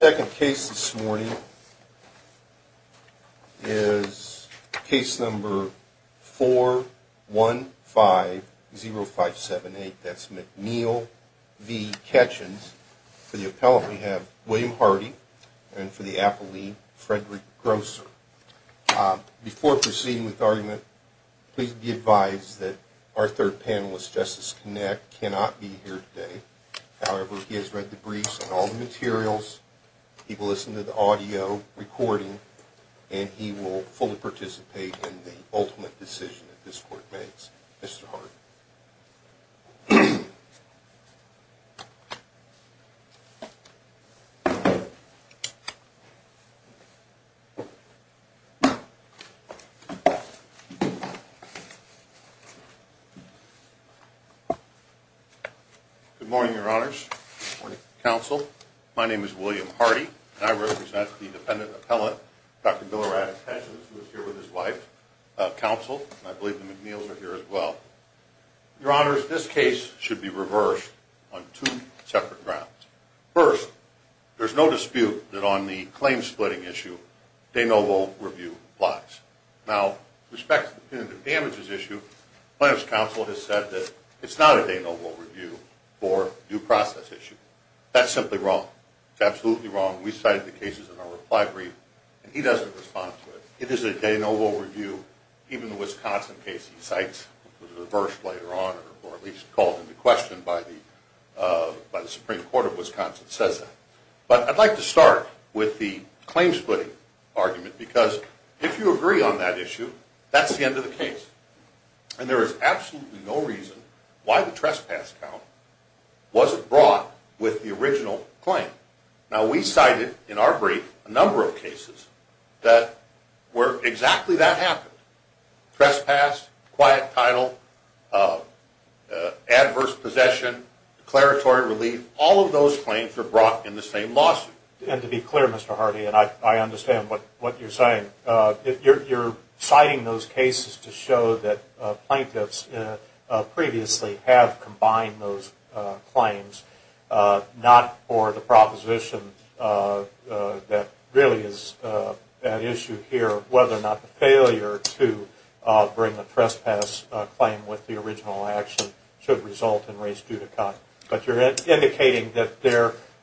The second case this morning is case number 4150578. That's McNeil v. Ketchens. For the appellant we have William Hardy and for the appellant Frederick Grosser. Before proceeding with the argument, please be advised that our third panelist, Justice Kinnick, cannot be here today. However, he has read the briefs on all the materials, he will listen to the audio recording, and he will fully participate in the ultimate decision that this court makes. Mr. Hardy. William Hardy Good morning, Your Honors. Good morning, Counsel. My name is William Hardy, and I represent the dependent appellant, Dr. Billerad Ketchens, who is here with his wife, Counsel, and I believe the McNeils are here as well. Your Honors, this case should be reversed on two separate grounds. First, there's no dispute that on the claim-splitting issue, de novo review applies. Now, with respect to the punitive damages issue, Plaintiff's Counsel has said that it's not a de novo review for due process issue. That's simply wrong. It's absolutely wrong. We cite the cases in our reply brief, and he doesn't respond to it. It is a de novo review, even the Wisconsin case he cites, which was reversed later on, or at least called into question by the Supreme Court of Wisconsin, says that. But I'd like to start with the claim-splitting argument, because if you agree on that issue, that's the end of the case. And there is absolutely no reason why the trespass count wasn't brought with the original claim. Now, we cited in our brief a number of cases where exactly that happened. Trespass, quiet title, adverse possession, declaratory relief, all of those claims were brought in the same lawsuit. And to be clear, Mr. Hardy, and I understand what you're saying, you're citing those cases to show that plaintiffs previously have combined those claims, not for the proposition that really is at issue here, whether or not the failure to bring the trespass claim with the original action should result in race due to cut. But you're indicating that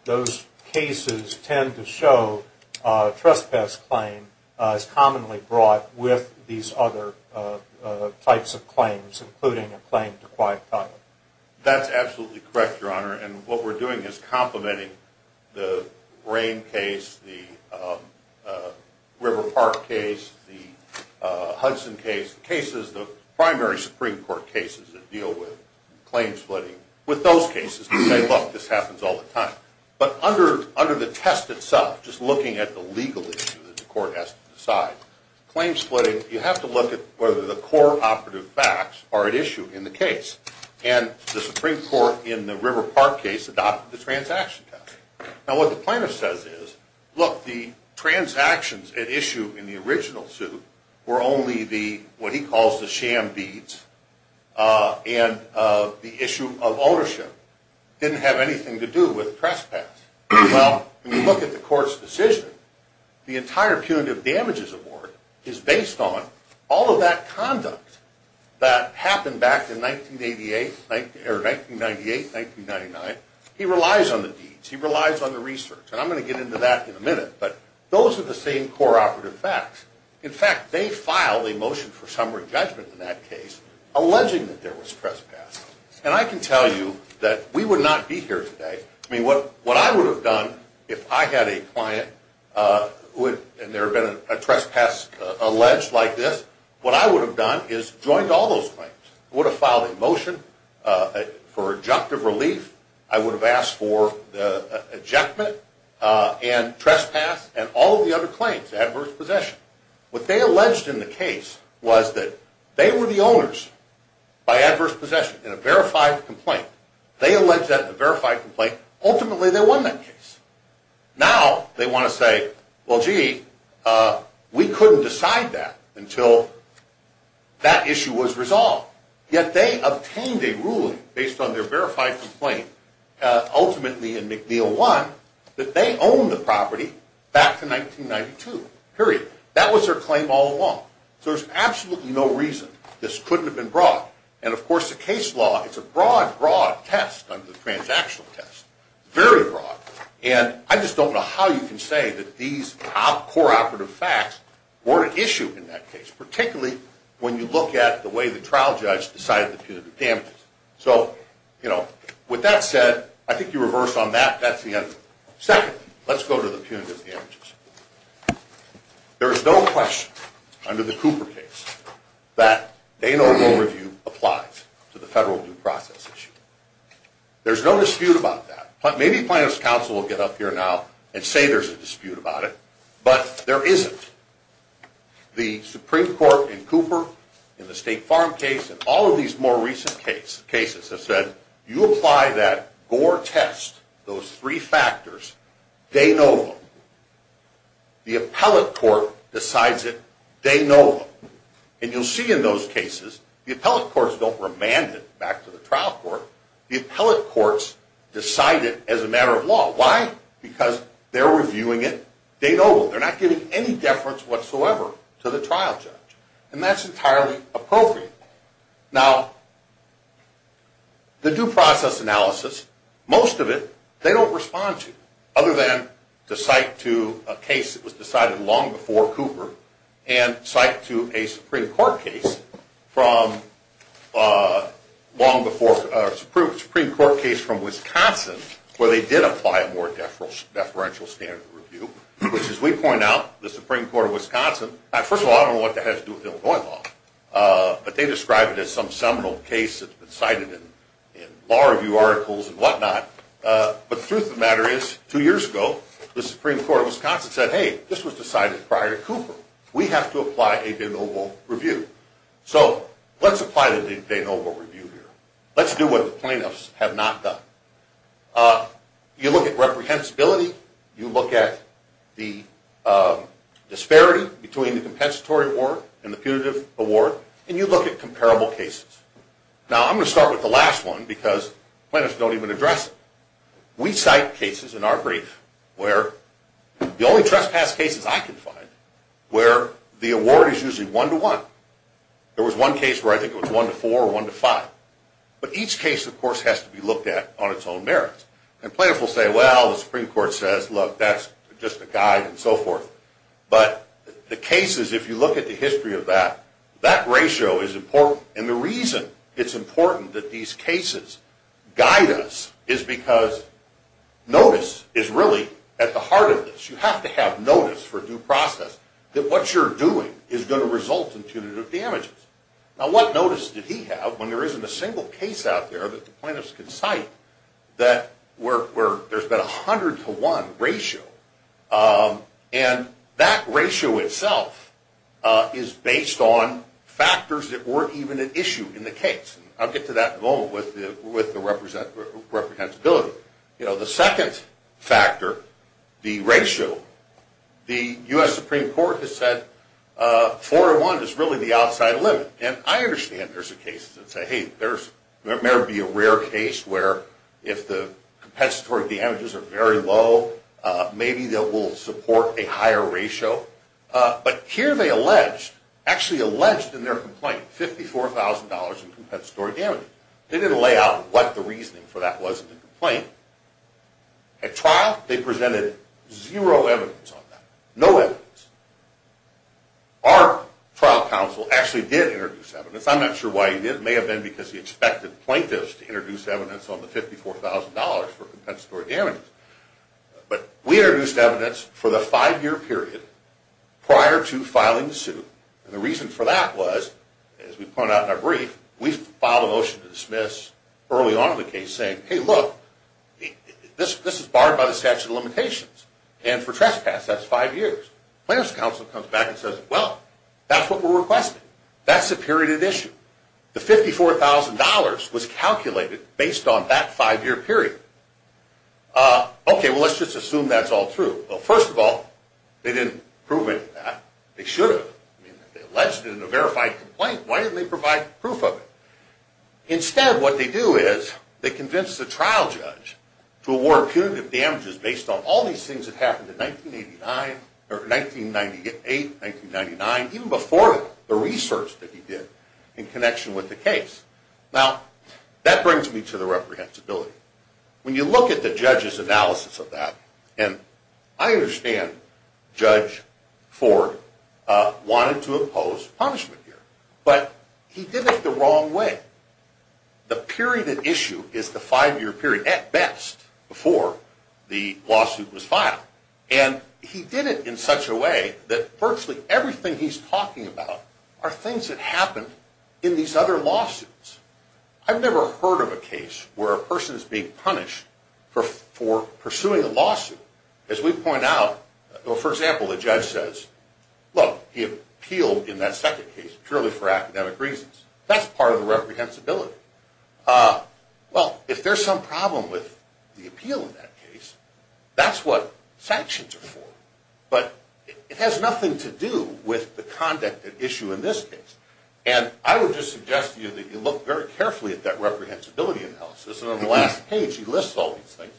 those cases tend to show a trespass claim is commonly brought with these other types of claims, including a claim to quiet title. But under the test itself, just looking at the legal issue that the court has to decide, claim-splitting, you have to look at whether the core operative facts are at issue in the case. And the Supreme Court in the River Park case adopted the transaction test. Now, what the plaintiff says is, look, the transactions at issue in the original suit were only the, what he calls the sham deeds, and the issue of ownership didn't have anything to do with trespass. Well, when you look at the court's decision, the entire punitive damages award is based on all of that conduct that happened back in 1988, or 1998, 1999. He relies on the deeds. He relies on the research. And I'm going to get into that in a minute. But those are the same core operative facts. In fact, they filed a motion for summary judgment in that case, alleging that there was trespass. And I can tell you that we would not be here today. I mean, what I would have done if I had a client and there had been a trespass alleged like this, what I would have done is joined all those claims. I would have filed a motion for objective relief. I would have asked for the ejectment and trespass and all of the other claims, adverse possession. What they alleged in the case was that they were the owners by adverse possession in a verified complaint. They alleged that in a verified complaint. Ultimately, they won that case. Now they want to say, well, gee, we couldn't decide that until that issue was resolved. Yet they obtained a ruling based on their verified complaint, ultimately in McNeil 1, that they owned the property back to 1992, period. That was their claim all along. So there's absolutely no reason this couldn't have been brought. And, of course, the case law, it's a broad, broad test under the transactional test, very broad. And I just don't know how you can say that these core operative facts weren't an issue in that case, particularly when you look at the way the trial judge decided the punitive damages. So, you know, with that said, I think you reversed on that. That's the end of it. Second, let's go to the punitive damages. There is no question under the Cooper case that de novo review applies to the federal due process issue. There's no dispute about that. Maybe plaintiff's counsel will get up here now and say there's a dispute about it. But there isn't. The Supreme Court and Cooper in the State Farm case and all of these more recent cases have said, you apply that Gore test, those three factors, de novo. The appellate court decides it de novo. And you'll see in those cases the appellate courts don't remand it back to the trial court. The appellate courts decide it as a matter of law. Why? Because they're reviewing it de novo. They're not giving any deference whatsoever to the trial judge. And that's entirely appropriate. Now, the due process analysis, most of it, they don't respond to, other than to cite to a case that was decided long before Cooper and cite to a Supreme Court case from Wisconsin where they did apply a more deferential standard review, which, as we point out, the Supreme Court of Wisconsin, first of all, I don't know what the heck that has to do with Illinois law, but they describe it as some seminal case that's been cited in law review articles and whatnot. But the truth of the matter is, two years ago, the Supreme Court of Wisconsin said, hey, this was decided prior to Cooper. We have to apply a de novo review. So let's apply the de novo review here. Let's do what the plaintiffs have not done. You look at reprehensibility. You look at the disparity between the compensatory award and the punitive award. And you look at comparable cases. Now, I'm going to start with the last one because plaintiffs don't even address it. We cite cases in our brief where the only trespass cases I can find where the award is usually one-to-one. There was one case where I think it was one-to-four or one-to-five. But each case, of course, has to be looked at on its own merits. And plaintiffs will say, well, the Supreme Court says, look, that's just a guide and so forth. But the cases, if you look at the history of that, that ratio is important. And the reason it's important that these cases guide us is because notice is really at the heart of this. You have to have notice for due process that what you're doing is going to result in punitive damages. Now, what notice did he have when there isn't a single case out there that the plaintiffs can cite that there's been a hundred-to-one ratio? And that ratio itself is based on factors that weren't even an issue in the case. I'll get to that in a moment with the reprehensibility. The second factor, the ratio, the U.S. Supreme Court has said four-to-one is really the outside limit. And I understand there's a case that says, hey, there may be a rare case where if the compensatory damages are very low, maybe they will support a higher ratio. But here they alleged, actually alleged in their complaint, $54,000 in compensatory damages. They didn't lay out what the reasoning for that was in the complaint. At trial, they presented zero evidence on that, no evidence. Our trial counsel actually did introduce evidence. I'm not sure why he did. It may have been because he expected plaintiffs to introduce evidence on the $54,000 for compensatory damages. But we introduced evidence for the five-year period prior to filing the suit. And the reason for that was, as we pointed out in our brief, we filed a motion to dismiss early on in the case saying, hey, look, this is barred by the statute of limitations. And for trespass, that's five years. Plaintiff's counsel comes back and says, well, that's what we're requesting. That's the period of issue. The $54,000 was calculated based on that five-year period. Okay, well, let's just assume that's all true. Well, first of all, they didn't prove any of that. They should have. I mean, they alleged it in a verified complaint. Why didn't they provide proof of it? Instead, what they do is they convince the trial judge to award punitive damages based on all these things that happened in 1998, 1999, even before the research that he did in connection with the case. Now, that brings me to the reprehensibility. When you look at the judge's analysis of that, and I understand Judge Ford wanted to impose punishment here, but he did it the wrong way. The period of issue is the five-year period, at best, before the lawsuit was filed. And he did it in such a way that virtually everything he's talking about are things that happened in these other lawsuits. I've never heard of a case where a person is being punished for pursuing a lawsuit. As we point out, for example, the judge says, look, he appealed in that second case purely for academic reasons. That's part of the reprehensibility. Well, if there's some problem with the appeal in that case, that's what sanctions are for. But it has nothing to do with the conduct at issue in this case. And I would just suggest to you that you look very carefully at that reprehensibility analysis. And on the last page, he lists all these things.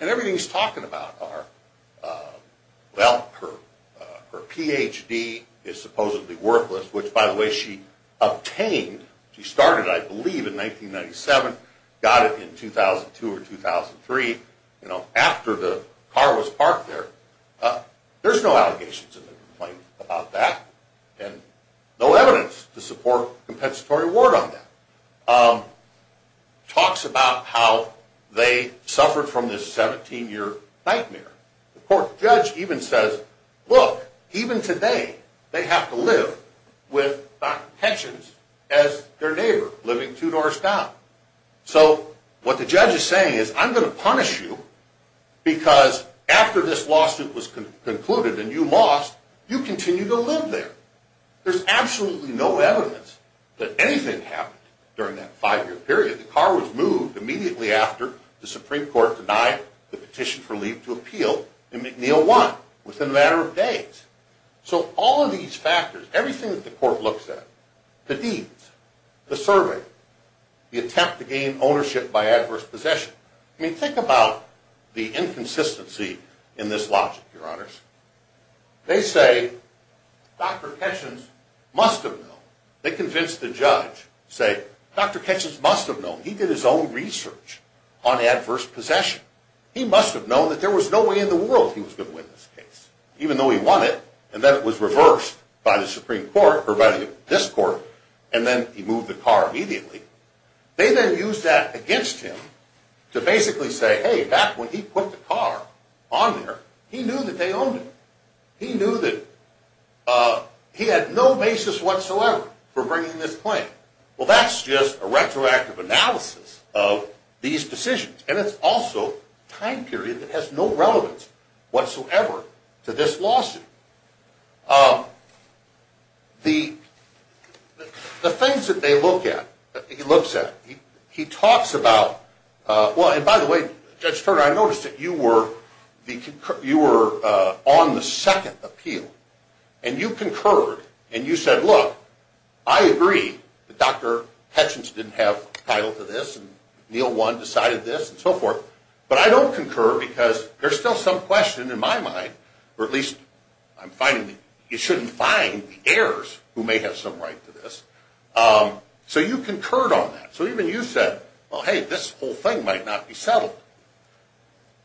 And everything he's talking about are, well, her Ph.D. is supposedly worthless, which, by the way, she obtained. She started, I believe, in 1997, got it in 2002 or 2003, you know, after the car was parked there. There's no allegations in the complaint about that and no evidence to support compensatory award on that. Talks about how they suffered from this 17-year nightmare. The court judge even says, look, even today they have to live with not pensions as their neighbor living two doors down. So what the judge is saying is, I'm going to punish you because after this lawsuit was concluded and you lost, you continue to live there. There's absolutely no evidence that anything happened during that five-year period. The car was moved immediately after the Supreme Court denied the petition for leave to appeal in McNeil 1 within a matter of days. So all of these factors, everything that the court looks at, the deeds, the survey, the attempt to gain ownership by adverse possession. I mean, think about the inconsistency in this logic, Your Honors. They say, Dr. Ketchins must have known. They convince the judge, say, Dr. Ketchins must have known. He did his own research on adverse possession. He must have known that there was no way in the world he was going to win this case. Even though he won it, and then it was reversed by the Supreme Court, or by this court, and then he moved the car immediately. They then used that against him to basically say, hey, back when he put the car on there, he knew that they owned it. He knew that he had no basis whatsoever for bringing this claim. Well, that's just a retroactive analysis of these decisions. And it's also a time period that has no relevance whatsoever to this lawsuit. The things that they look at, he looks at, he talks about, well, and by the way, Judge Turner, I noticed that you were on the second appeal. And you concurred, and you said, look, I agree that Dr. Ketchins didn't have a title to this, and Neil One decided this, and so forth, but I don't concur because there's still some question in my mind, or at least I'm finding that you shouldn't find the heirs who may have some right to this. So you concurred on that. So even you said, well, hey, this whole thing might not be settled.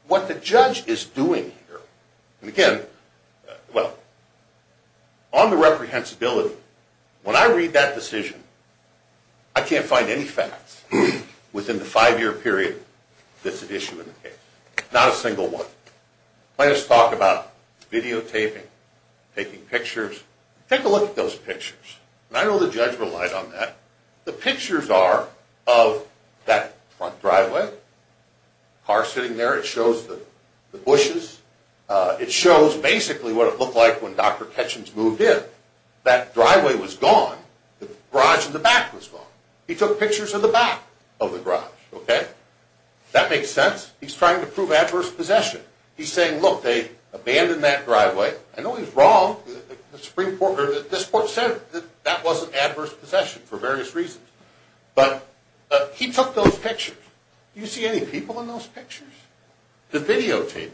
What the judge is doing here, and again, well, on the reprehensibility, when I read that decision, I can't find any facts within the five-year period that's at issue in the case, not a single one. Plaintiffs talk about videotaping, taking pictures. Take a look at those pictures. I know the judge relied on that. The pictures are of that front driveway, car sitting there. It shows the bushes. It shows basically what it looked like when Dr. Ketchins moved in. That driveway was gone. The garage in the back was gone. He took pictures of the back of the garage. That makes sense. He's trying to prove adverse possession. He's saying, look, they abandoned that driveway. I know he's wrong. This court said that that wasn't adverse possession for various reasons. But he took those pictures. Do you see any people in those pictures? The videotaping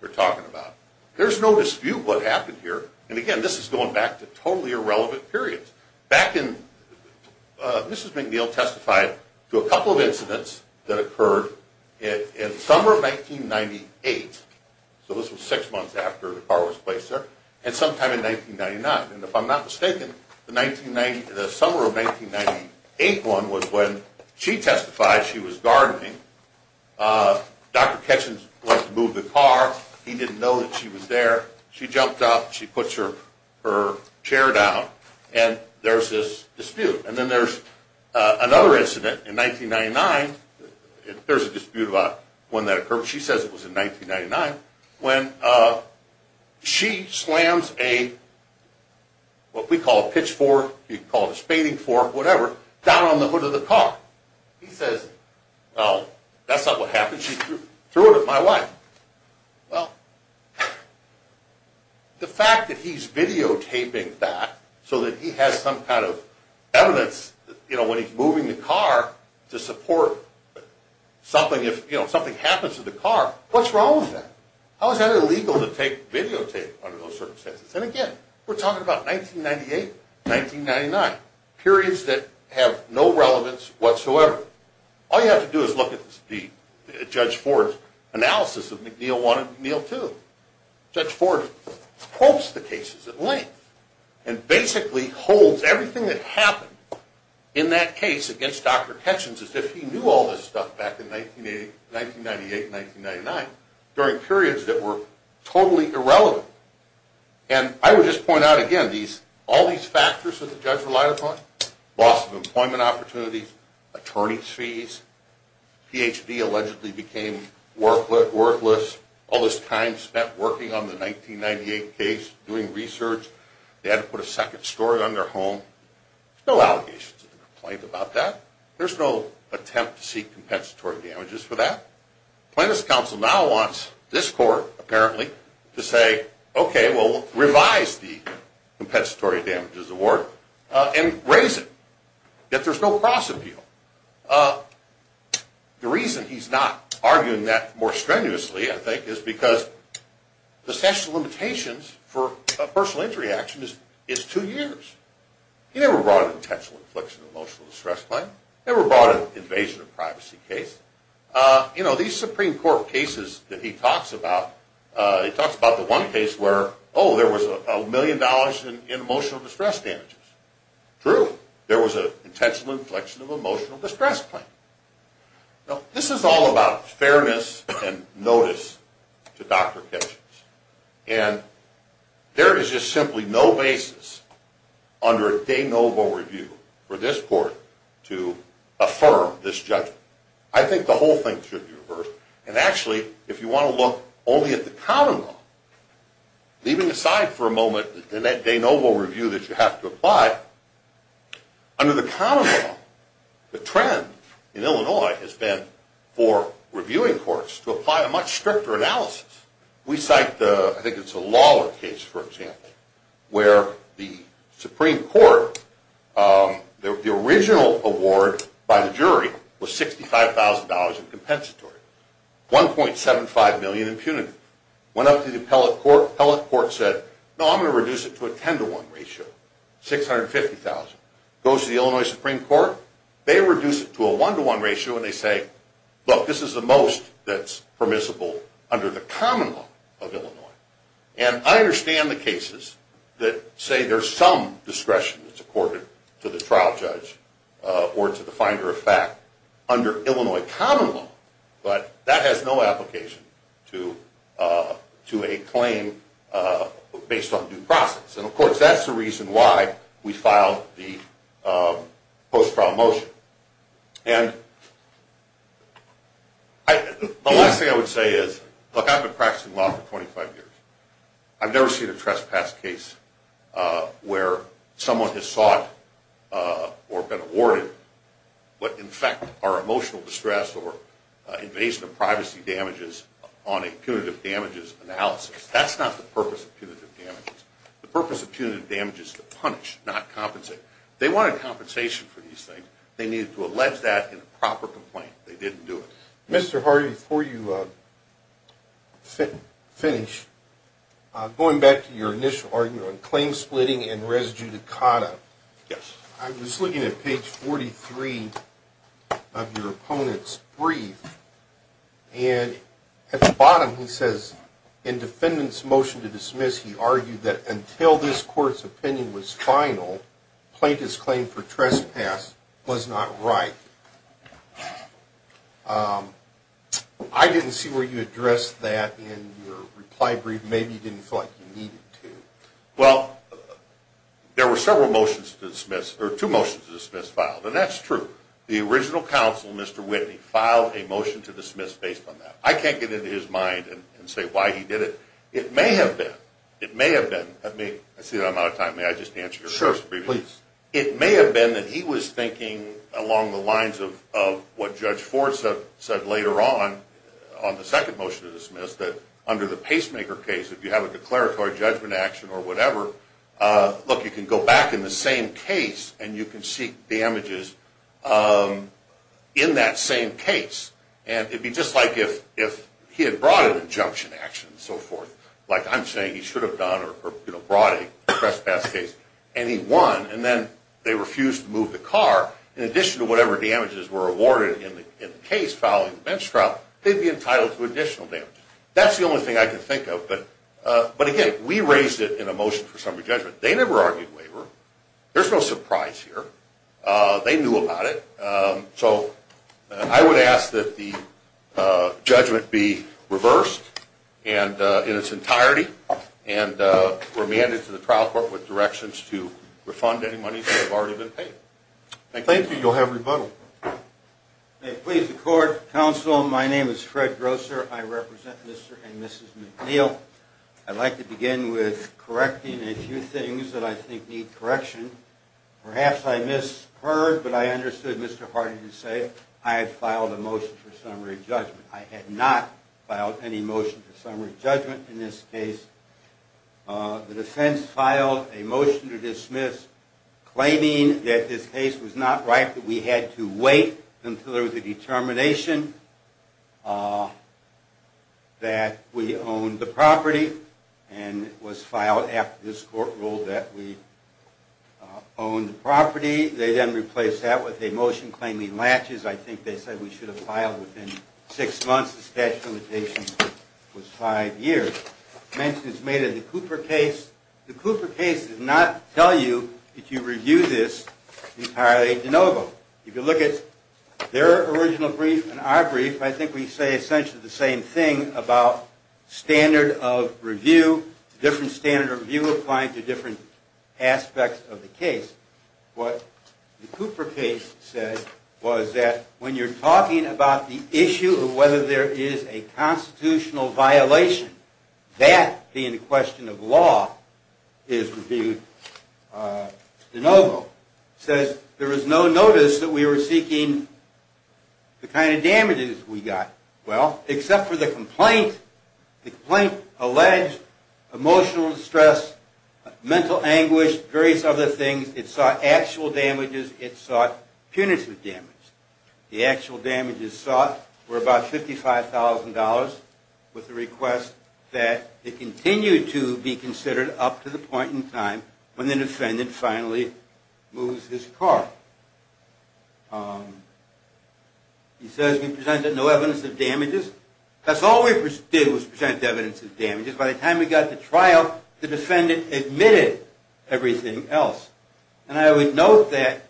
they're talking about. There's no dispute what happened here. And again, this is going back to totally irrelevant periods. Back in, Mrs. McNeil testified to a couple of incidents that occurred in the summer of 1998. So this was six months after the car was placed there, and sometime in 1999. And if I'm not mistaken, the summer of 1998 one was when she testified she was gardening. Dr. Ketchins went to move the car. He didn't know that she was there. She jumped up. She puts her chair down. And there's this dispute. And then there's another incident in 1999. There's a dispute about when that occurred. She says it was in 1999 when she slams a, what we call a pitchfork, you can call it a spading fork, whatever, down on the hood of the car. He says, well, that's not what happened. She threw it at my wife. Well, the fact that he's videotaping that so that he has some kind of evidence, you know, when he's moving the car to support something, you know, if something happens to the car, what's wrong with that? How is that illegal to videotape under those circumstances? And again, we're talking about 1998, 1999, periods that have no relevance whatsoever. All you have to do is look at Judge Ford's analysis of McNeil 1 and McNeil 2. Judge Ford quotes the cases at length and basically holds everything that happened in that case against Dr. Ketchens as if he knew all this stuff back in 1998 and 1999 during periods that were totally irrelevant. And I would just point out again, all these factors that the judge relied upon, loss of employment opportunities, attorney's fees, Ph.D. allegedly became worthless, all this time spent working on the 1998 case, doing research, they had to put a second story on their home. There's no allegations of complaint about that. There's no attempt to seek compensatory damages for that. Plaintiff's counsel now wants this court, apparently, to say, okay, well, revise the compensatory damages award and raise it, that there's no cross-appeal. The reason he's not arguing that more strenuously, I think, is because the statute of limitations for a personal injury action is two years. He never brought an intentional infliction of emotional distress claim, never brought an invasion of privacy case. You know, these Supreme Court cases that he talks about, he talks about the one case where, oh, there was a million dollars in emotional distress damages. True, there was an intentional inflection of emotional distress claim. Now, this is all about fairness and notice to Dr. Ketchum. And there is just simply no basis under a de novo review for this court to affirm this judgment. I think the whole thing should be reversed. And actually, if you want to look only at the common law, leaving aside for a moment the de novo review that you have to apply, under the common law, the trend in Illinois has been for reviewing courts to apply a much stricter analysis. We cite the, I think it's the Lawler case, for example, where the Supreme Court, the original award by the jury was $65,000 in compensatory, 1.75 million in punitive. Went up to the appellate court, appellate court said, no, I'm going to reduce it to a 10 to 1 ratio, $650,000. Goes to the Illinois Supreme Court, they reduce it to a 1 to 1 ratio and they say, look, this is the most that's permissible under the common law of Illinois. And I understand the cases that say there's some discretion that's accorded to the trial judge or to the finder of fact under Illinois common law, but that has no application to a claim based on due process. And, of course, that's the reason why we filed the post-trial motion. And the last thing I would say is, look, I've been practicing law for 25 years. I've never seen a trespass case where someone has sought or been awarded what, in fact, are emotional distress or invasion of privacy damages on a punitive damages analysis. That's not the purpose of punitive damages. The purpose of punitive damages is to punish, not compensate. If they wanted compensation for these things, they needed to allege that in a proper complaint. They didn't do it. Mr. Hardy, before you finish, going back to your initial argument on claim splitting and res judicata. Yes. I was looking at page 43 of your opponent's brief. And at the bottom he says, in defendant's motion to dismiss, he argued that until this court's opinion was final, plaintiff's claim for trespass was not right. I didn't see where you addressed that in your reply brief. Maybe you didn't feel like you needed to. Well, there were several motions to dismiss, or two motions to dismiss filed. And that's true. The original counsel, Mr. Whitney, filed a motion to dismiss based on that. I can't get into his mind and say why he did it. It may have been. It may have been. Let me see if I'm out of time. May I just answer your first brief? Sure, please. It may have been that he was thinking along the lines of what Judge Ford said later on, on the second motion to dismiss, that under the pacemaker case, if you have a declaratory judgment action or whatever, look, you can go back in the same case and you can seek damages in that same case. And it would be just like if he had brought an injunction action and so forth. Like I'm saying he should have done or brought a trespass case. And he won. And then they refused to move the car. In addition to whatever damages were awarded in the case following the bench trial, they'd be entitled to additional damages. That's the only thing I can think of. But, again, we raised it in a motion for summary judgment. They never argued waiver. There's no surprise here. They knew about it. So I would ask that the judgment be reversed in its entirety and remanded to the trial court with directions to refund any money that has already been paid. Thank you. Thank you. You'll have rebuttal. May it please the court. Counsel, my name is Fred Grosser. I represent Mr. and Mrs. McNeil. I'd like to begin with correcting a few things that I think need correction. Perhaps I misheard, but I understood Mr. Harding to say I had filed a motion for summary judgment. I had not filed any motion for summary judgment in this case. The defense filed a motion to dismiss, claiming that this case was not right, that we had to wait until there was a determination that we owned the property, and it was filed after this court ruled that we owned the property. They then replaced that with a motion claiming latches. I think they said we should have filed within six months. The statute of limitations was five years. Mention is made of the Cooper case. The Cooper case did not tell you that you review this entirely de novo. If you look at their original brief and our brief, I think we say essentially the same thing about standard of review, different standard of review applying to different aspects of the case. What the Cooper case said was that when you're talking about the issue of whether there is a constitutional violation, that being the question of law is reviewed de novo. It says there was no notice that we were seeking the kind of damages we got. Well, except for the complaint. The complaint alleged emotional distress, mental anguish, various other things. It sought actual damages. It sought punitive damage. The actual damages sought were about $55,000, with the request that it continue to be considered up to the point in time when the defendant finally moves his car. It says we presented no evidence of damages. That's all we did was present evidence of damages. By the time we got to trial, the defendant admitted everything else. And I would note that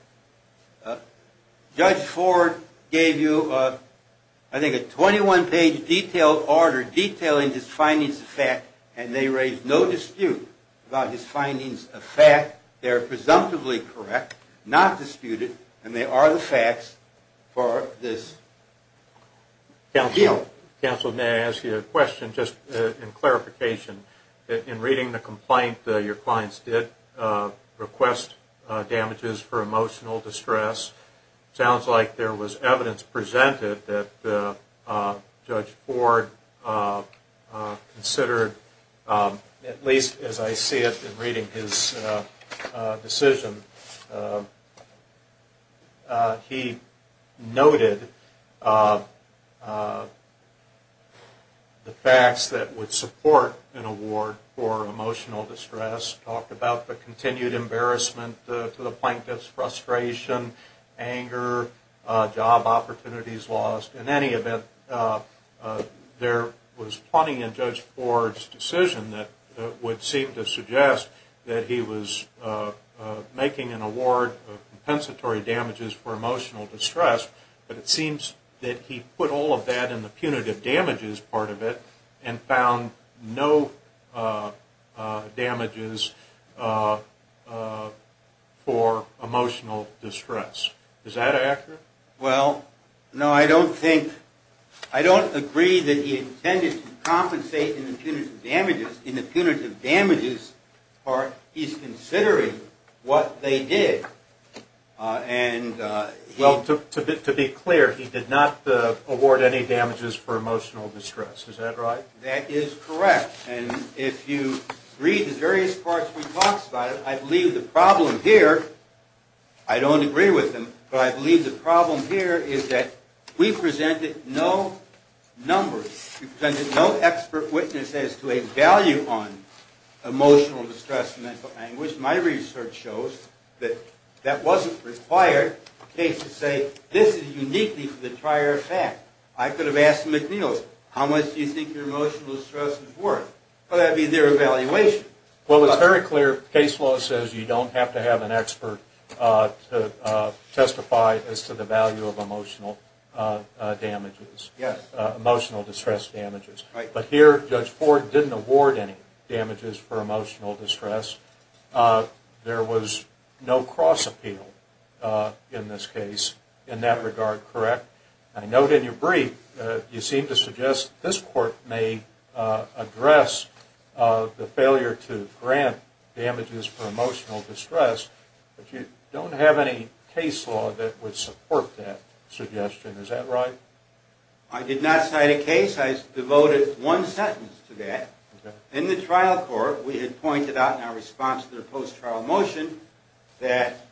Judge Ford gave you, I think, a 21-page detailed order detailing his findings of fact, and they raised no dispute about his findings of fact. They are presumptively correct, not disputed, and they are the facts for this appeal. Counsel, may I ask you a question, just in clarification? In reading the complaint, your clients did request damages for emotional distress. It sounds like there was evidence presented that Judge Ford considered, at least as I see it in reading his decision, he noted the facts that would support an award for emotional distress, talked about the continued embarrassment to the plaintiff's frustration, anger, job opportunities lost. In any event, there was plenty in Judge Ford's decision that would seem to suggest that he was making an award of compensatory damages for emotional distress, but it seems that he put all of that in the punitive damages part of it and found no damages for emotional distress. Is that accurate? Well, no, I don't think, I don't agree that he intended to compensate in the punitive damages part. He's considering what they did. Well, to be clear, he did not award any damages for emotional distress, is that right? That is correct, and if you read the various parts where he talks about it, I believe the problem here, I don't agree with him, but I believe the problem here is that we presented no numbers, we presented no expert witness as to a value on emotional distress and mental anguish. My research shows that that wasn't required. Cases say, this is uniquely for the prior fact. I could have asked the McNeil's, how much do you think your emotional distress is worth? Well, that would be their evaluation. Well, it's very clear, case law says you don't have to have an expert to testify as to the value of emotional damages, emotional distress damages. But here, Judge Ford didn't award any damages for emotional distress. There was no cross appeal in this case in that regard, correct? I note in your brief, you seem to suggest this court may address the failure to grant damages for emotional distress, but you don't have any case law that would support that suggestion, is that right? I did not cite a case, I devoted one sentence to that. In the trial court, we had pointed out in our response to the post-trial motion, that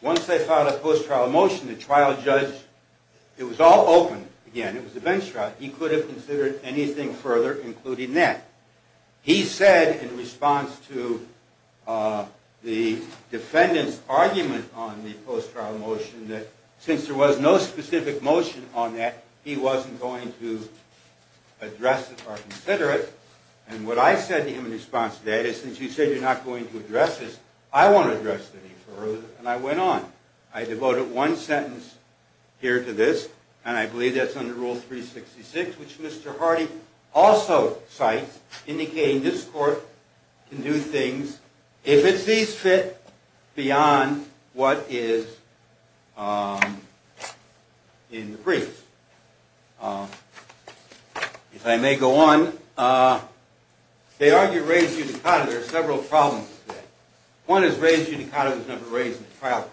once they filed a post-trial motion, the trial judge, it was all open again, it was a bench trial, he could have considered anything further including that. He said in response to the defendant's argument on the post-trial motion, that since there was no specific motion on that, he wasn't going to address it or consider it. And what I said to him in response to that is, since you said you're not going to address this, I won't address it any further, and I went on. I devoted one sentence here to this, and I believe that's under Rule 366, which Mr. Hardy also cites, indicating this court can do things, if it sees fit, beyond what is in the brief. If I may go on, they argue raised unicodon, there are several problems with that. One is raised unicodon was never raised in the trial court.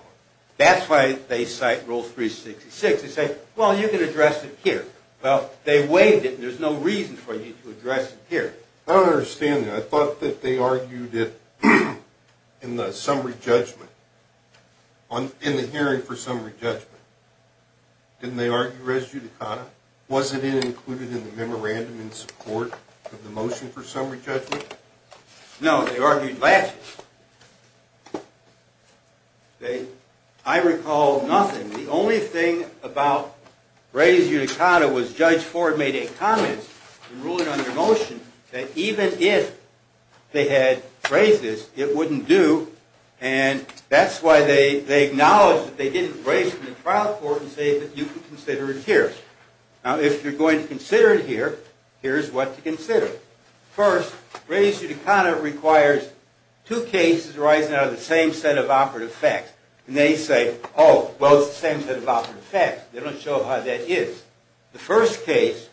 That's why they cite Rule 366, they say, well, you can address it here. Well, they waived it, and there's no reason for you to address it here. I don't understand that. I thought that they argued it in the summary judgment, in the hearing for summary judgment. Didn't they argue raised unicodon? Was it included in the memorandum in support of the motion for summary judgment? No, they argued last year. I recall nothing. The only thing about raised unicodon was Judge Ford made a comment, in ruling on the motion, that even if they had raised this, it wouldn't do, and that's why they acknowledge that they didn't raise it in the trial court, and say that you can consider it here. Now, if you're going to consider it here, here's what to consider. First, raised unicodon requires two cases arising out of the same set of operative facts, and they say, oh, well, it's the same set of operative facts. They don't show how that is. The first case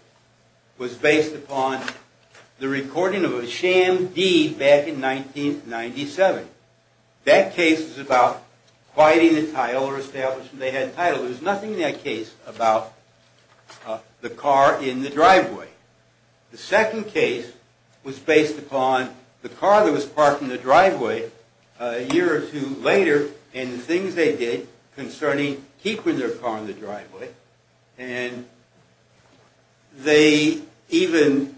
was based upon the recording of a sham deed back in 1997. That case was about quieting the title, or establishing they had a title. There was nothing in that case about the car in the driveway. The second case was based upon the car that was parked in the driveway a year or two later, and the things they did concerning keeping their car in the driveway. And they even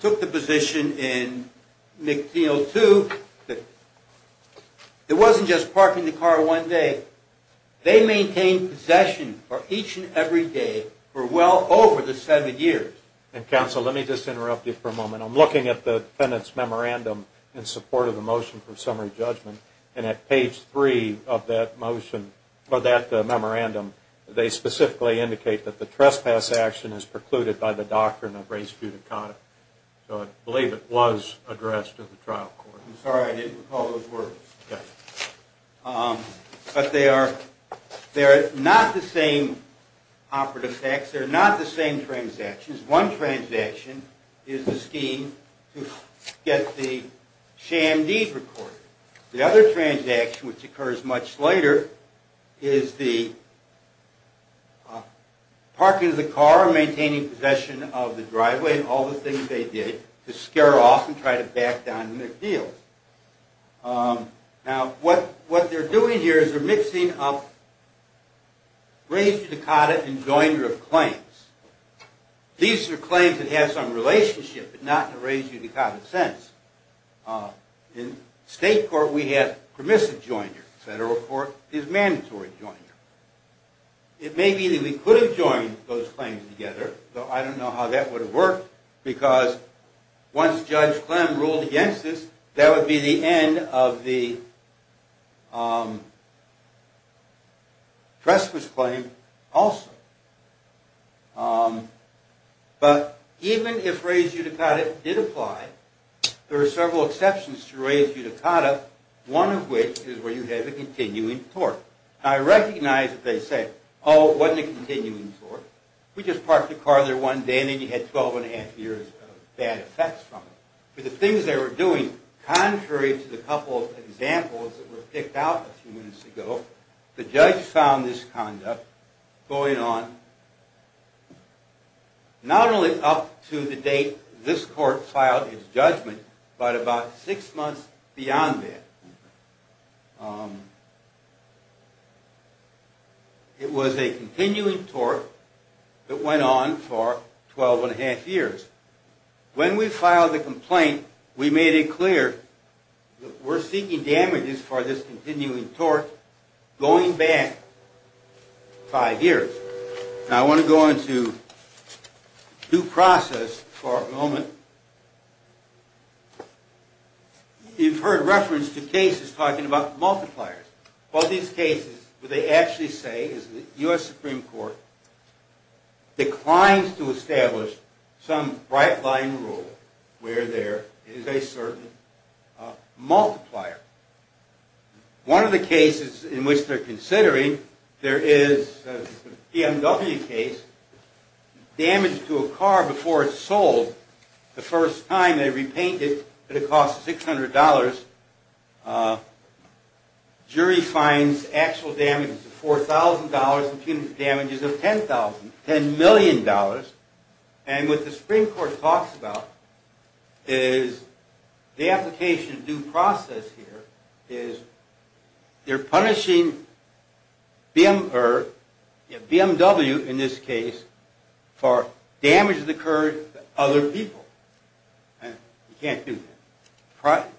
took the position in McNeil, too, that it wasn't just parking the car one day. They maintained possession for each and every day for well over the seven years. And, counsel, let me just interrupt you for a moment. I'm looking at the defendant's memorandum in support of the motion for summary judgment, and at page three of that memorandum they specifically indicate that the trespass action is precluded by the doctrine of raised unicodon. So I believe it was addressed in the trial court. I'm sorry I didn't recall those words. Okay. But they are not the same operative facts. They're not the same transactions. One transaction is the scheme to get the sham deed recorded. The other transaction, which occurs much later, is the parking of the car and maintaining possession of the driveway and all the things they did to scare off and try to back down McNeil. Now, what they're doing here is they're mixing up raised unicodon and joinder of claims. These are claims that have some relationship, but not in a raised unicodon sense. In state court we have permissive joinder, federal court is mandatory joinder. It may be that we could have joined those claims together, though I don't know how that would have worked because once Judge Clem ruled against this, that would be the end of the trespass claim also. But even if raised unicodon did apply, there are several exceptions to raised unicodon, one of which is where you have a continuing tort. I recognize that they say, oh, it wasn't a continuing tort. We just parked the car there one day and then you had 12 and a half years of bad effects from it. But the things they were doing, contrary to the couple of examples that were picked out a few minutes ago, the judge found this conduct going on not only up to the date this court filed its judgment, but about six months beyond that. It was a continuing tort that went on for 12 and a half years. When we filed the complaint, we made it clear that we're seeking damages for this continuing tort going back five years. Now I want to go into due process for a moment. You've heard reference to cases talking about multipliers. Well, these cases, what they actually say is the U.S. Supreme Court declines to establish some right-line rule where there is a certain multiplier. One of the cases in which they're considering, there is a BMW case. Damage to a car before it's sold. The first time they repainted it, it cost $600. Jury finds actual damages of $4,000 and punitive damages of $10 million. And what the Supreme Court talks about is the application of due process here is they're punishing BMW, in this case, for damage that occurred to other people. You can't do that.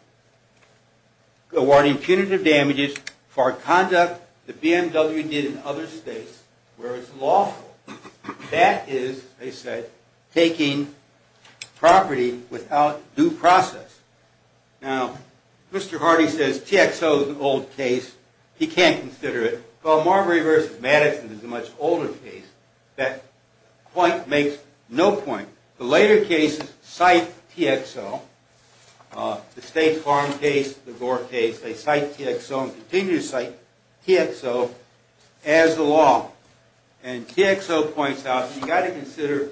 Awarding punitive damages for conduct that BMW did in other states where it's lawful. That is, they said, taking property without due process. Now, Mr. Hardy says TXO is an old case. He can't consider it. Well, Marbury v. Madison is a much older case. That point makes no point. The later cases cite TXO. The State Farm case, the Gore case, they cite TXO and continue to cite TXO as the law. And TXO points out you've got to consider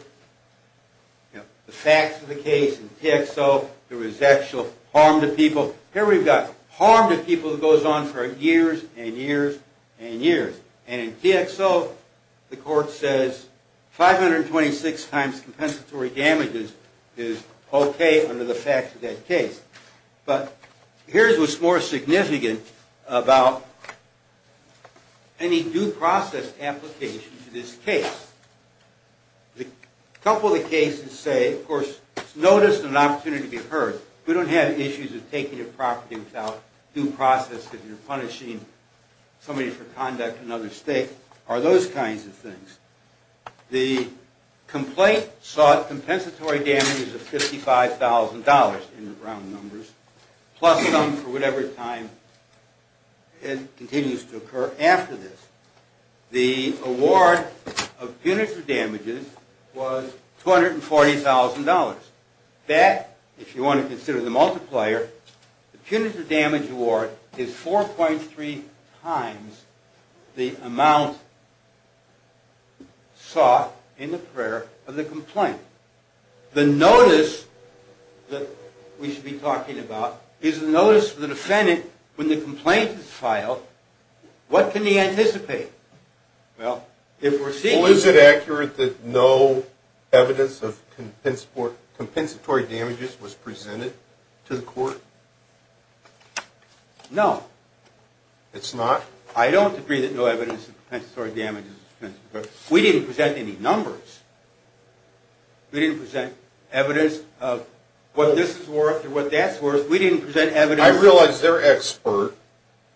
the facts of the case. In TXO, there was actual harm to people. Here we've got harm to people that goes on for years and years and years. And in TXO, the court says 526 times compensatory damages is okay under the facts of that case. But here's what's more significant about any due process application to this case. A couple of the cases say, of course, it's noticed and an opportunity to be heard. We don't have issues of taking your property without due process if you're punishing somebody for conduct in another state or those kinds of things. The complaint sought compensatory damages of $55,000 in round numbers, plus some for whatever time it continues to occur after this. The award of punitive damages was $240,000. That, if you want to consider the multiplier, the punitive damage award is 4.3 times the amount sought in the prayer of the complaint. The notice that we should be talking about is the notice for the defendant when the complaint is filed. What can he anticipate? Well, is it accurate that no evidence of compensatory damages was presented to the court? No. It's not? I don't agree that no evidence of compensatory damages was presented. We didn't present any numbers. We didn't present evidence of what this is worth or what that's worth. We didn't present evidence. I realize their expert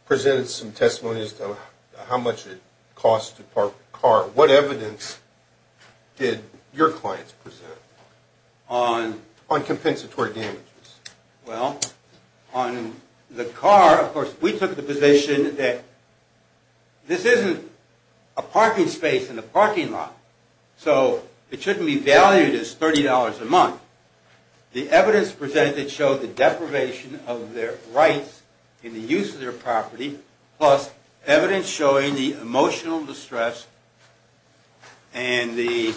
presented some testimonies of how much it costs to park the car. What evidence did your clients present on compensatory damages? Well, on the car, of course, we took the position that this isn't a parking space in a parking lot, so it shouldn't be valued as $30 a month. The evidence presented showed the deprivation of their rights in the use of their property, plus evidence showing the emotional distress and the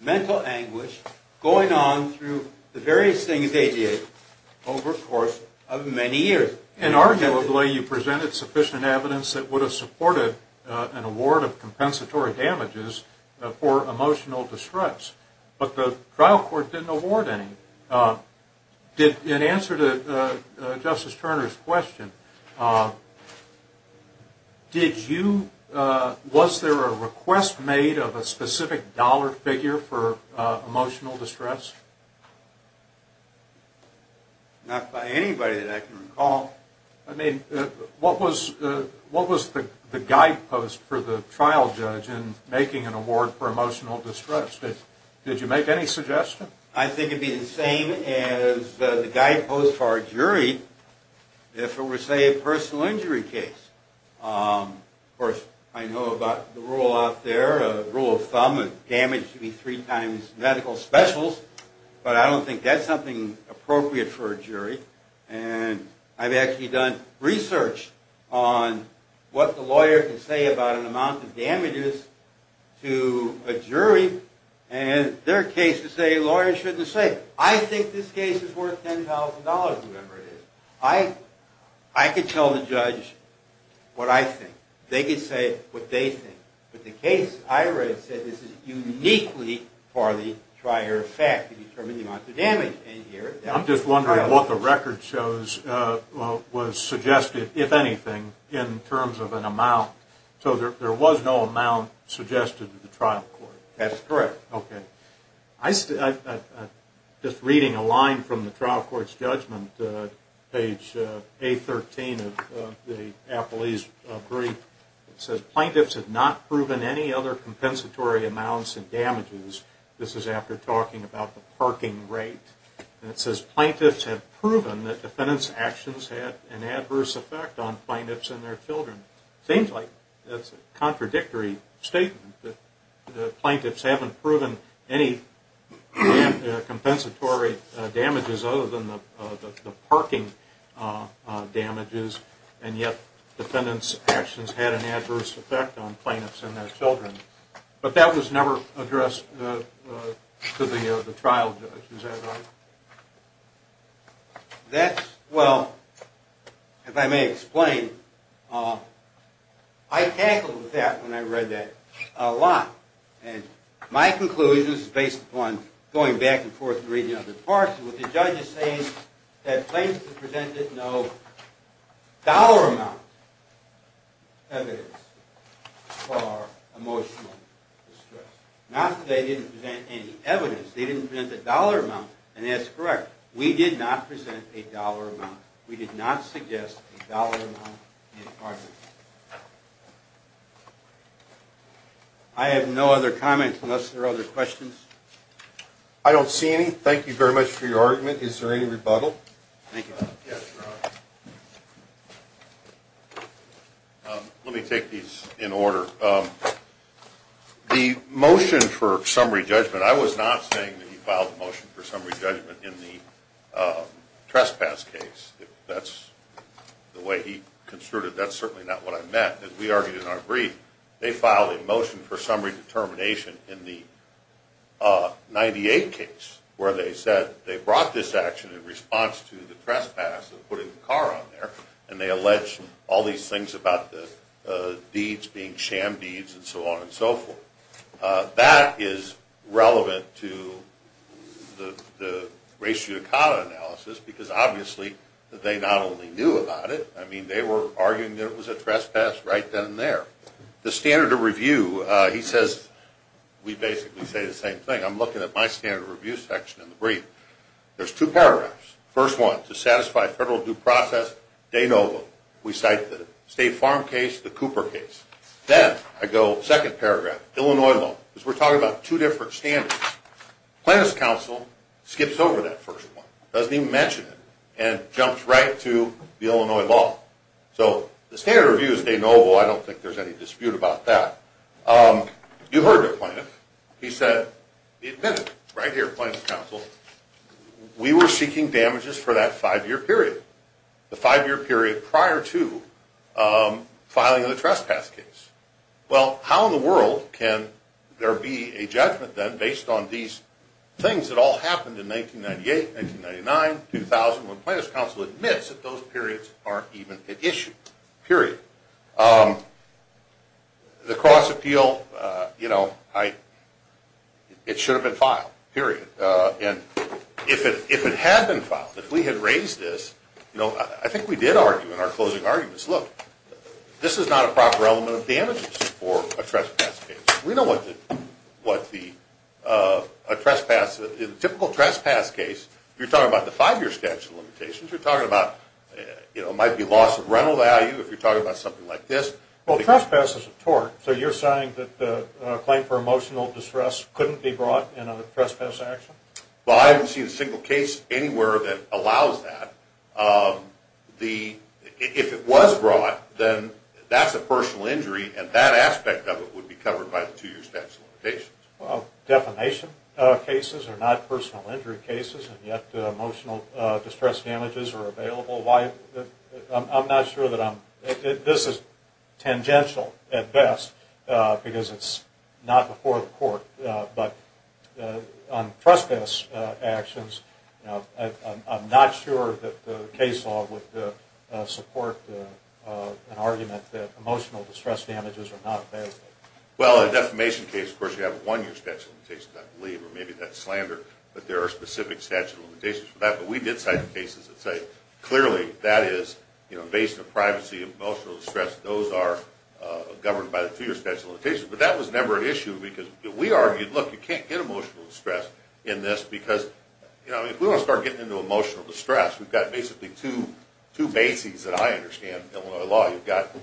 mental anguish going on through the various things they did over a course of many years. And arguably, you presented sufficient evidence that would have supported an award of compensatory damages for emotional distress. But the trial court didn't award any. In answer to Justice Turner's question, was there a request made of a specific dollar figure for emotional distress? Not by anybody that I can recall. I mean, what was the guidepost for the trial judge in making an award for emotional distress? Did you make any suggestions? I think it would be the same as the guidepost for a jury if it were, say, a personal injury case. Of course, I know about the rule out there, a rule of thumb, damage should be three times medical specials, but I don't think that's something appropriate for a jury. And I've actually done research on what the lawyer can say about an amount of damages to a jury, and their cases say lawyers shouldn't say, I think this case is worth $10,000, whatever it is. I could tell the judge what I think. They could say what they think. But the case I read said this is uniquely for the trier fact to determine the amount of damage in here. I'm just wondering what the record shows was suggested, if anything, in terms of an amount. So there was no amount suggested to the trial court? That is correct. Okay. I'm just reading a line from the trial court's judgment, page A13 of the appellee's brief. It says, plaintiffs have not proven any other compensatory amounts in damages. This is after talking about the parking rate. And it says, plaintiffs have proven that defendant's actions had an adverse effect on plaintiffs and their children. It seems like that's a contradictory statement, that the plaintiffs haven't proven any compensatory damages other than the parking damages, and yet defendant's actions had an adverse effect on plaintiffs and their children. But that was never addressed to the trial judge, is that right? That's, well, if I may explain, I tackled that when I read that a lot. And my conclusion, this is based upon going back and forth and reading other parts, what the judge is saying is that plaintiffs presented no dollar amount evidence for emotional distress. Not that they didn't present any evidence. They didn't present a dollar amount, and that's correct. We did not present a dollar amount. We did not suggest a dollar amount in our judgment. I have no other comments unless there are other questions. I don't see any. Thank you very much for your argument. Is there any rebuttal? Thank you. Let me take these in order. The motion for summary judgment, I was not saying that he filed a motion for summary judgment in the trespass case. That's the way he construed it. That's certainly not what I meant. As we argued in our brief, they filed a motion for summary determination in the 98 case, where they said they brought this action in response to the trespass of putting the car on there, and they alleged all these things about the beads being sham beads and so on and so forth. That is relevant to the race judicata analysis, because obviously they not only knew about it, I mean, they were arguing that it was a trespass right then and there. The standard of review, he says we basically say the same thing. I'm looking at my standard of review section in the brief. There's two paragraphs. First one, to satisfy federal due process de novo. We cite the State Farm case, the Cooper case. Then I go second paragraph, Illinois law, because we're talking about two different standards. Plaintiff's counsel skips over that first one, doesn't even mention it, and jumps right to the Illinois law. So the standard of review is de novo. I don't think there's any dispute about that. You heard the plaintiff. He said, right here, plaintiff's counsel, we were seeking damages for that five-year period, the five-year period prior to filing the trespass case. Well, how in the world can there be a judgment, then, based on these things that all happened in 1998, 1999, 2000, when plaintiff's counsel admits that those periods aren't even an issue, period. The cross-appeal, you know, it should have been filed, period. And if it had been filed, if we had raised this, you know, I think we did argue in our closing arguments, look, this is not a proper element of damages for a trespass case. We know what the trespass, in a typical trespass case, you're talking about the five-year statute of limitations, you're talking about, you know, it might be loss of rental value if you're talking about something like this. Well, trespass is a tort, so you're saying that the claim for emotional distress couldn't be brought in a trespass action? Well, I haven't seen a single case anywhere that allows that. If it was brought, then that's a personal injury, and that aspect of it would be covered by the two-year statute of limitations. Well, defamation cases are not personal injury cases, and yet emotional distress damages are available. I'm not sure that I'm, this is tangential at best, because it's not before the court. But on trespass actions, I'm not sure that the case law would support an argument that emotional distress damages are not available. Well, a defamation case, of course, you have a one-year statute of limitations, I believe, or maybe that's slander, but there are specific statute of limitations for that. But we did cite cases that say, clearly, that is, you know, based on privacy, emotional distress, those are governed by the two-year statute of limitations. But that was never an issue, because we argued, look, you can't get emotional distress in this, because, you know, if we want to start getting into emotional distress, we've got basically two bases that I understand in Illinois law. You've got,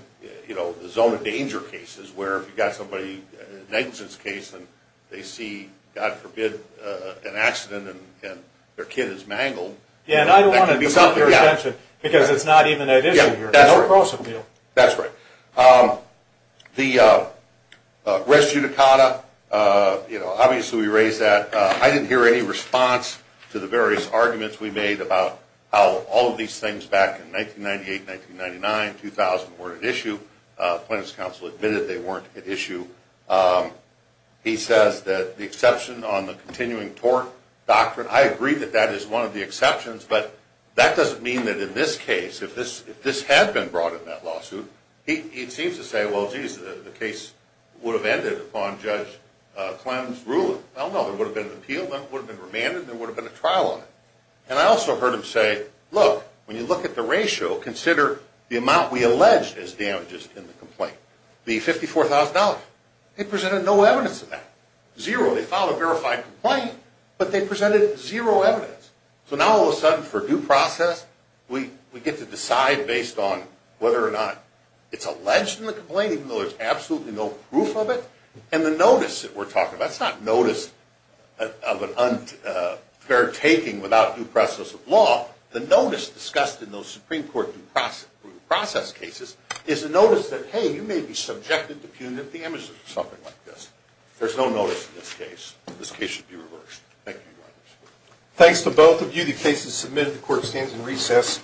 you know, the zone of danger cases, where if you've got somebody, a negligence case, and they see, God forbid, an accident, and their kid is mangled. Yeah, and I don't want to put that at your attention, because it's not even an issue here. Yeah, that's right. There's no cross-appeal. That's right. The res judicata, you know, obviously we raised that. I didn't hear any response to the various arguments we made about how all of these things back in 1998, 1999, 2000, weren't at issue. Plaintiff's counsel admitted they weren't at issue. He says that the exception on the continuing tort doctrine, I agree that that is one of the exceptions, but that doesn't mean that in this case, if this had been brought in that lawsuit, he seems to say, well, geez, the case would have ended upon Judge Clem's ruling. Well, no, there would have been an appeal, it would have been remanded, and there would have been a trial on it. And I also heard him say, look, when you look at the ratio, consider the amount we allege as damages in the complaint, the $54,000. They presented no evidence of that. Zero. They filed a verified complaint, but they presented zero evidence. So now all of a sudden for due process, we get to decide based on whether or not it's alleged in the complaint, even though there's absolutely no proof of it, and the notice that we're talking about, it's not notice of an unfair taking without due process of law. The notice discussed in those Supreme Court due process cases is a notice that, hey, you may be subjected to punitive damages or something like this. There's no notice in this case. This case should be reversed. Thank you, Your Honor. Thanks to both of you. The case is submitted. The court stands in recess.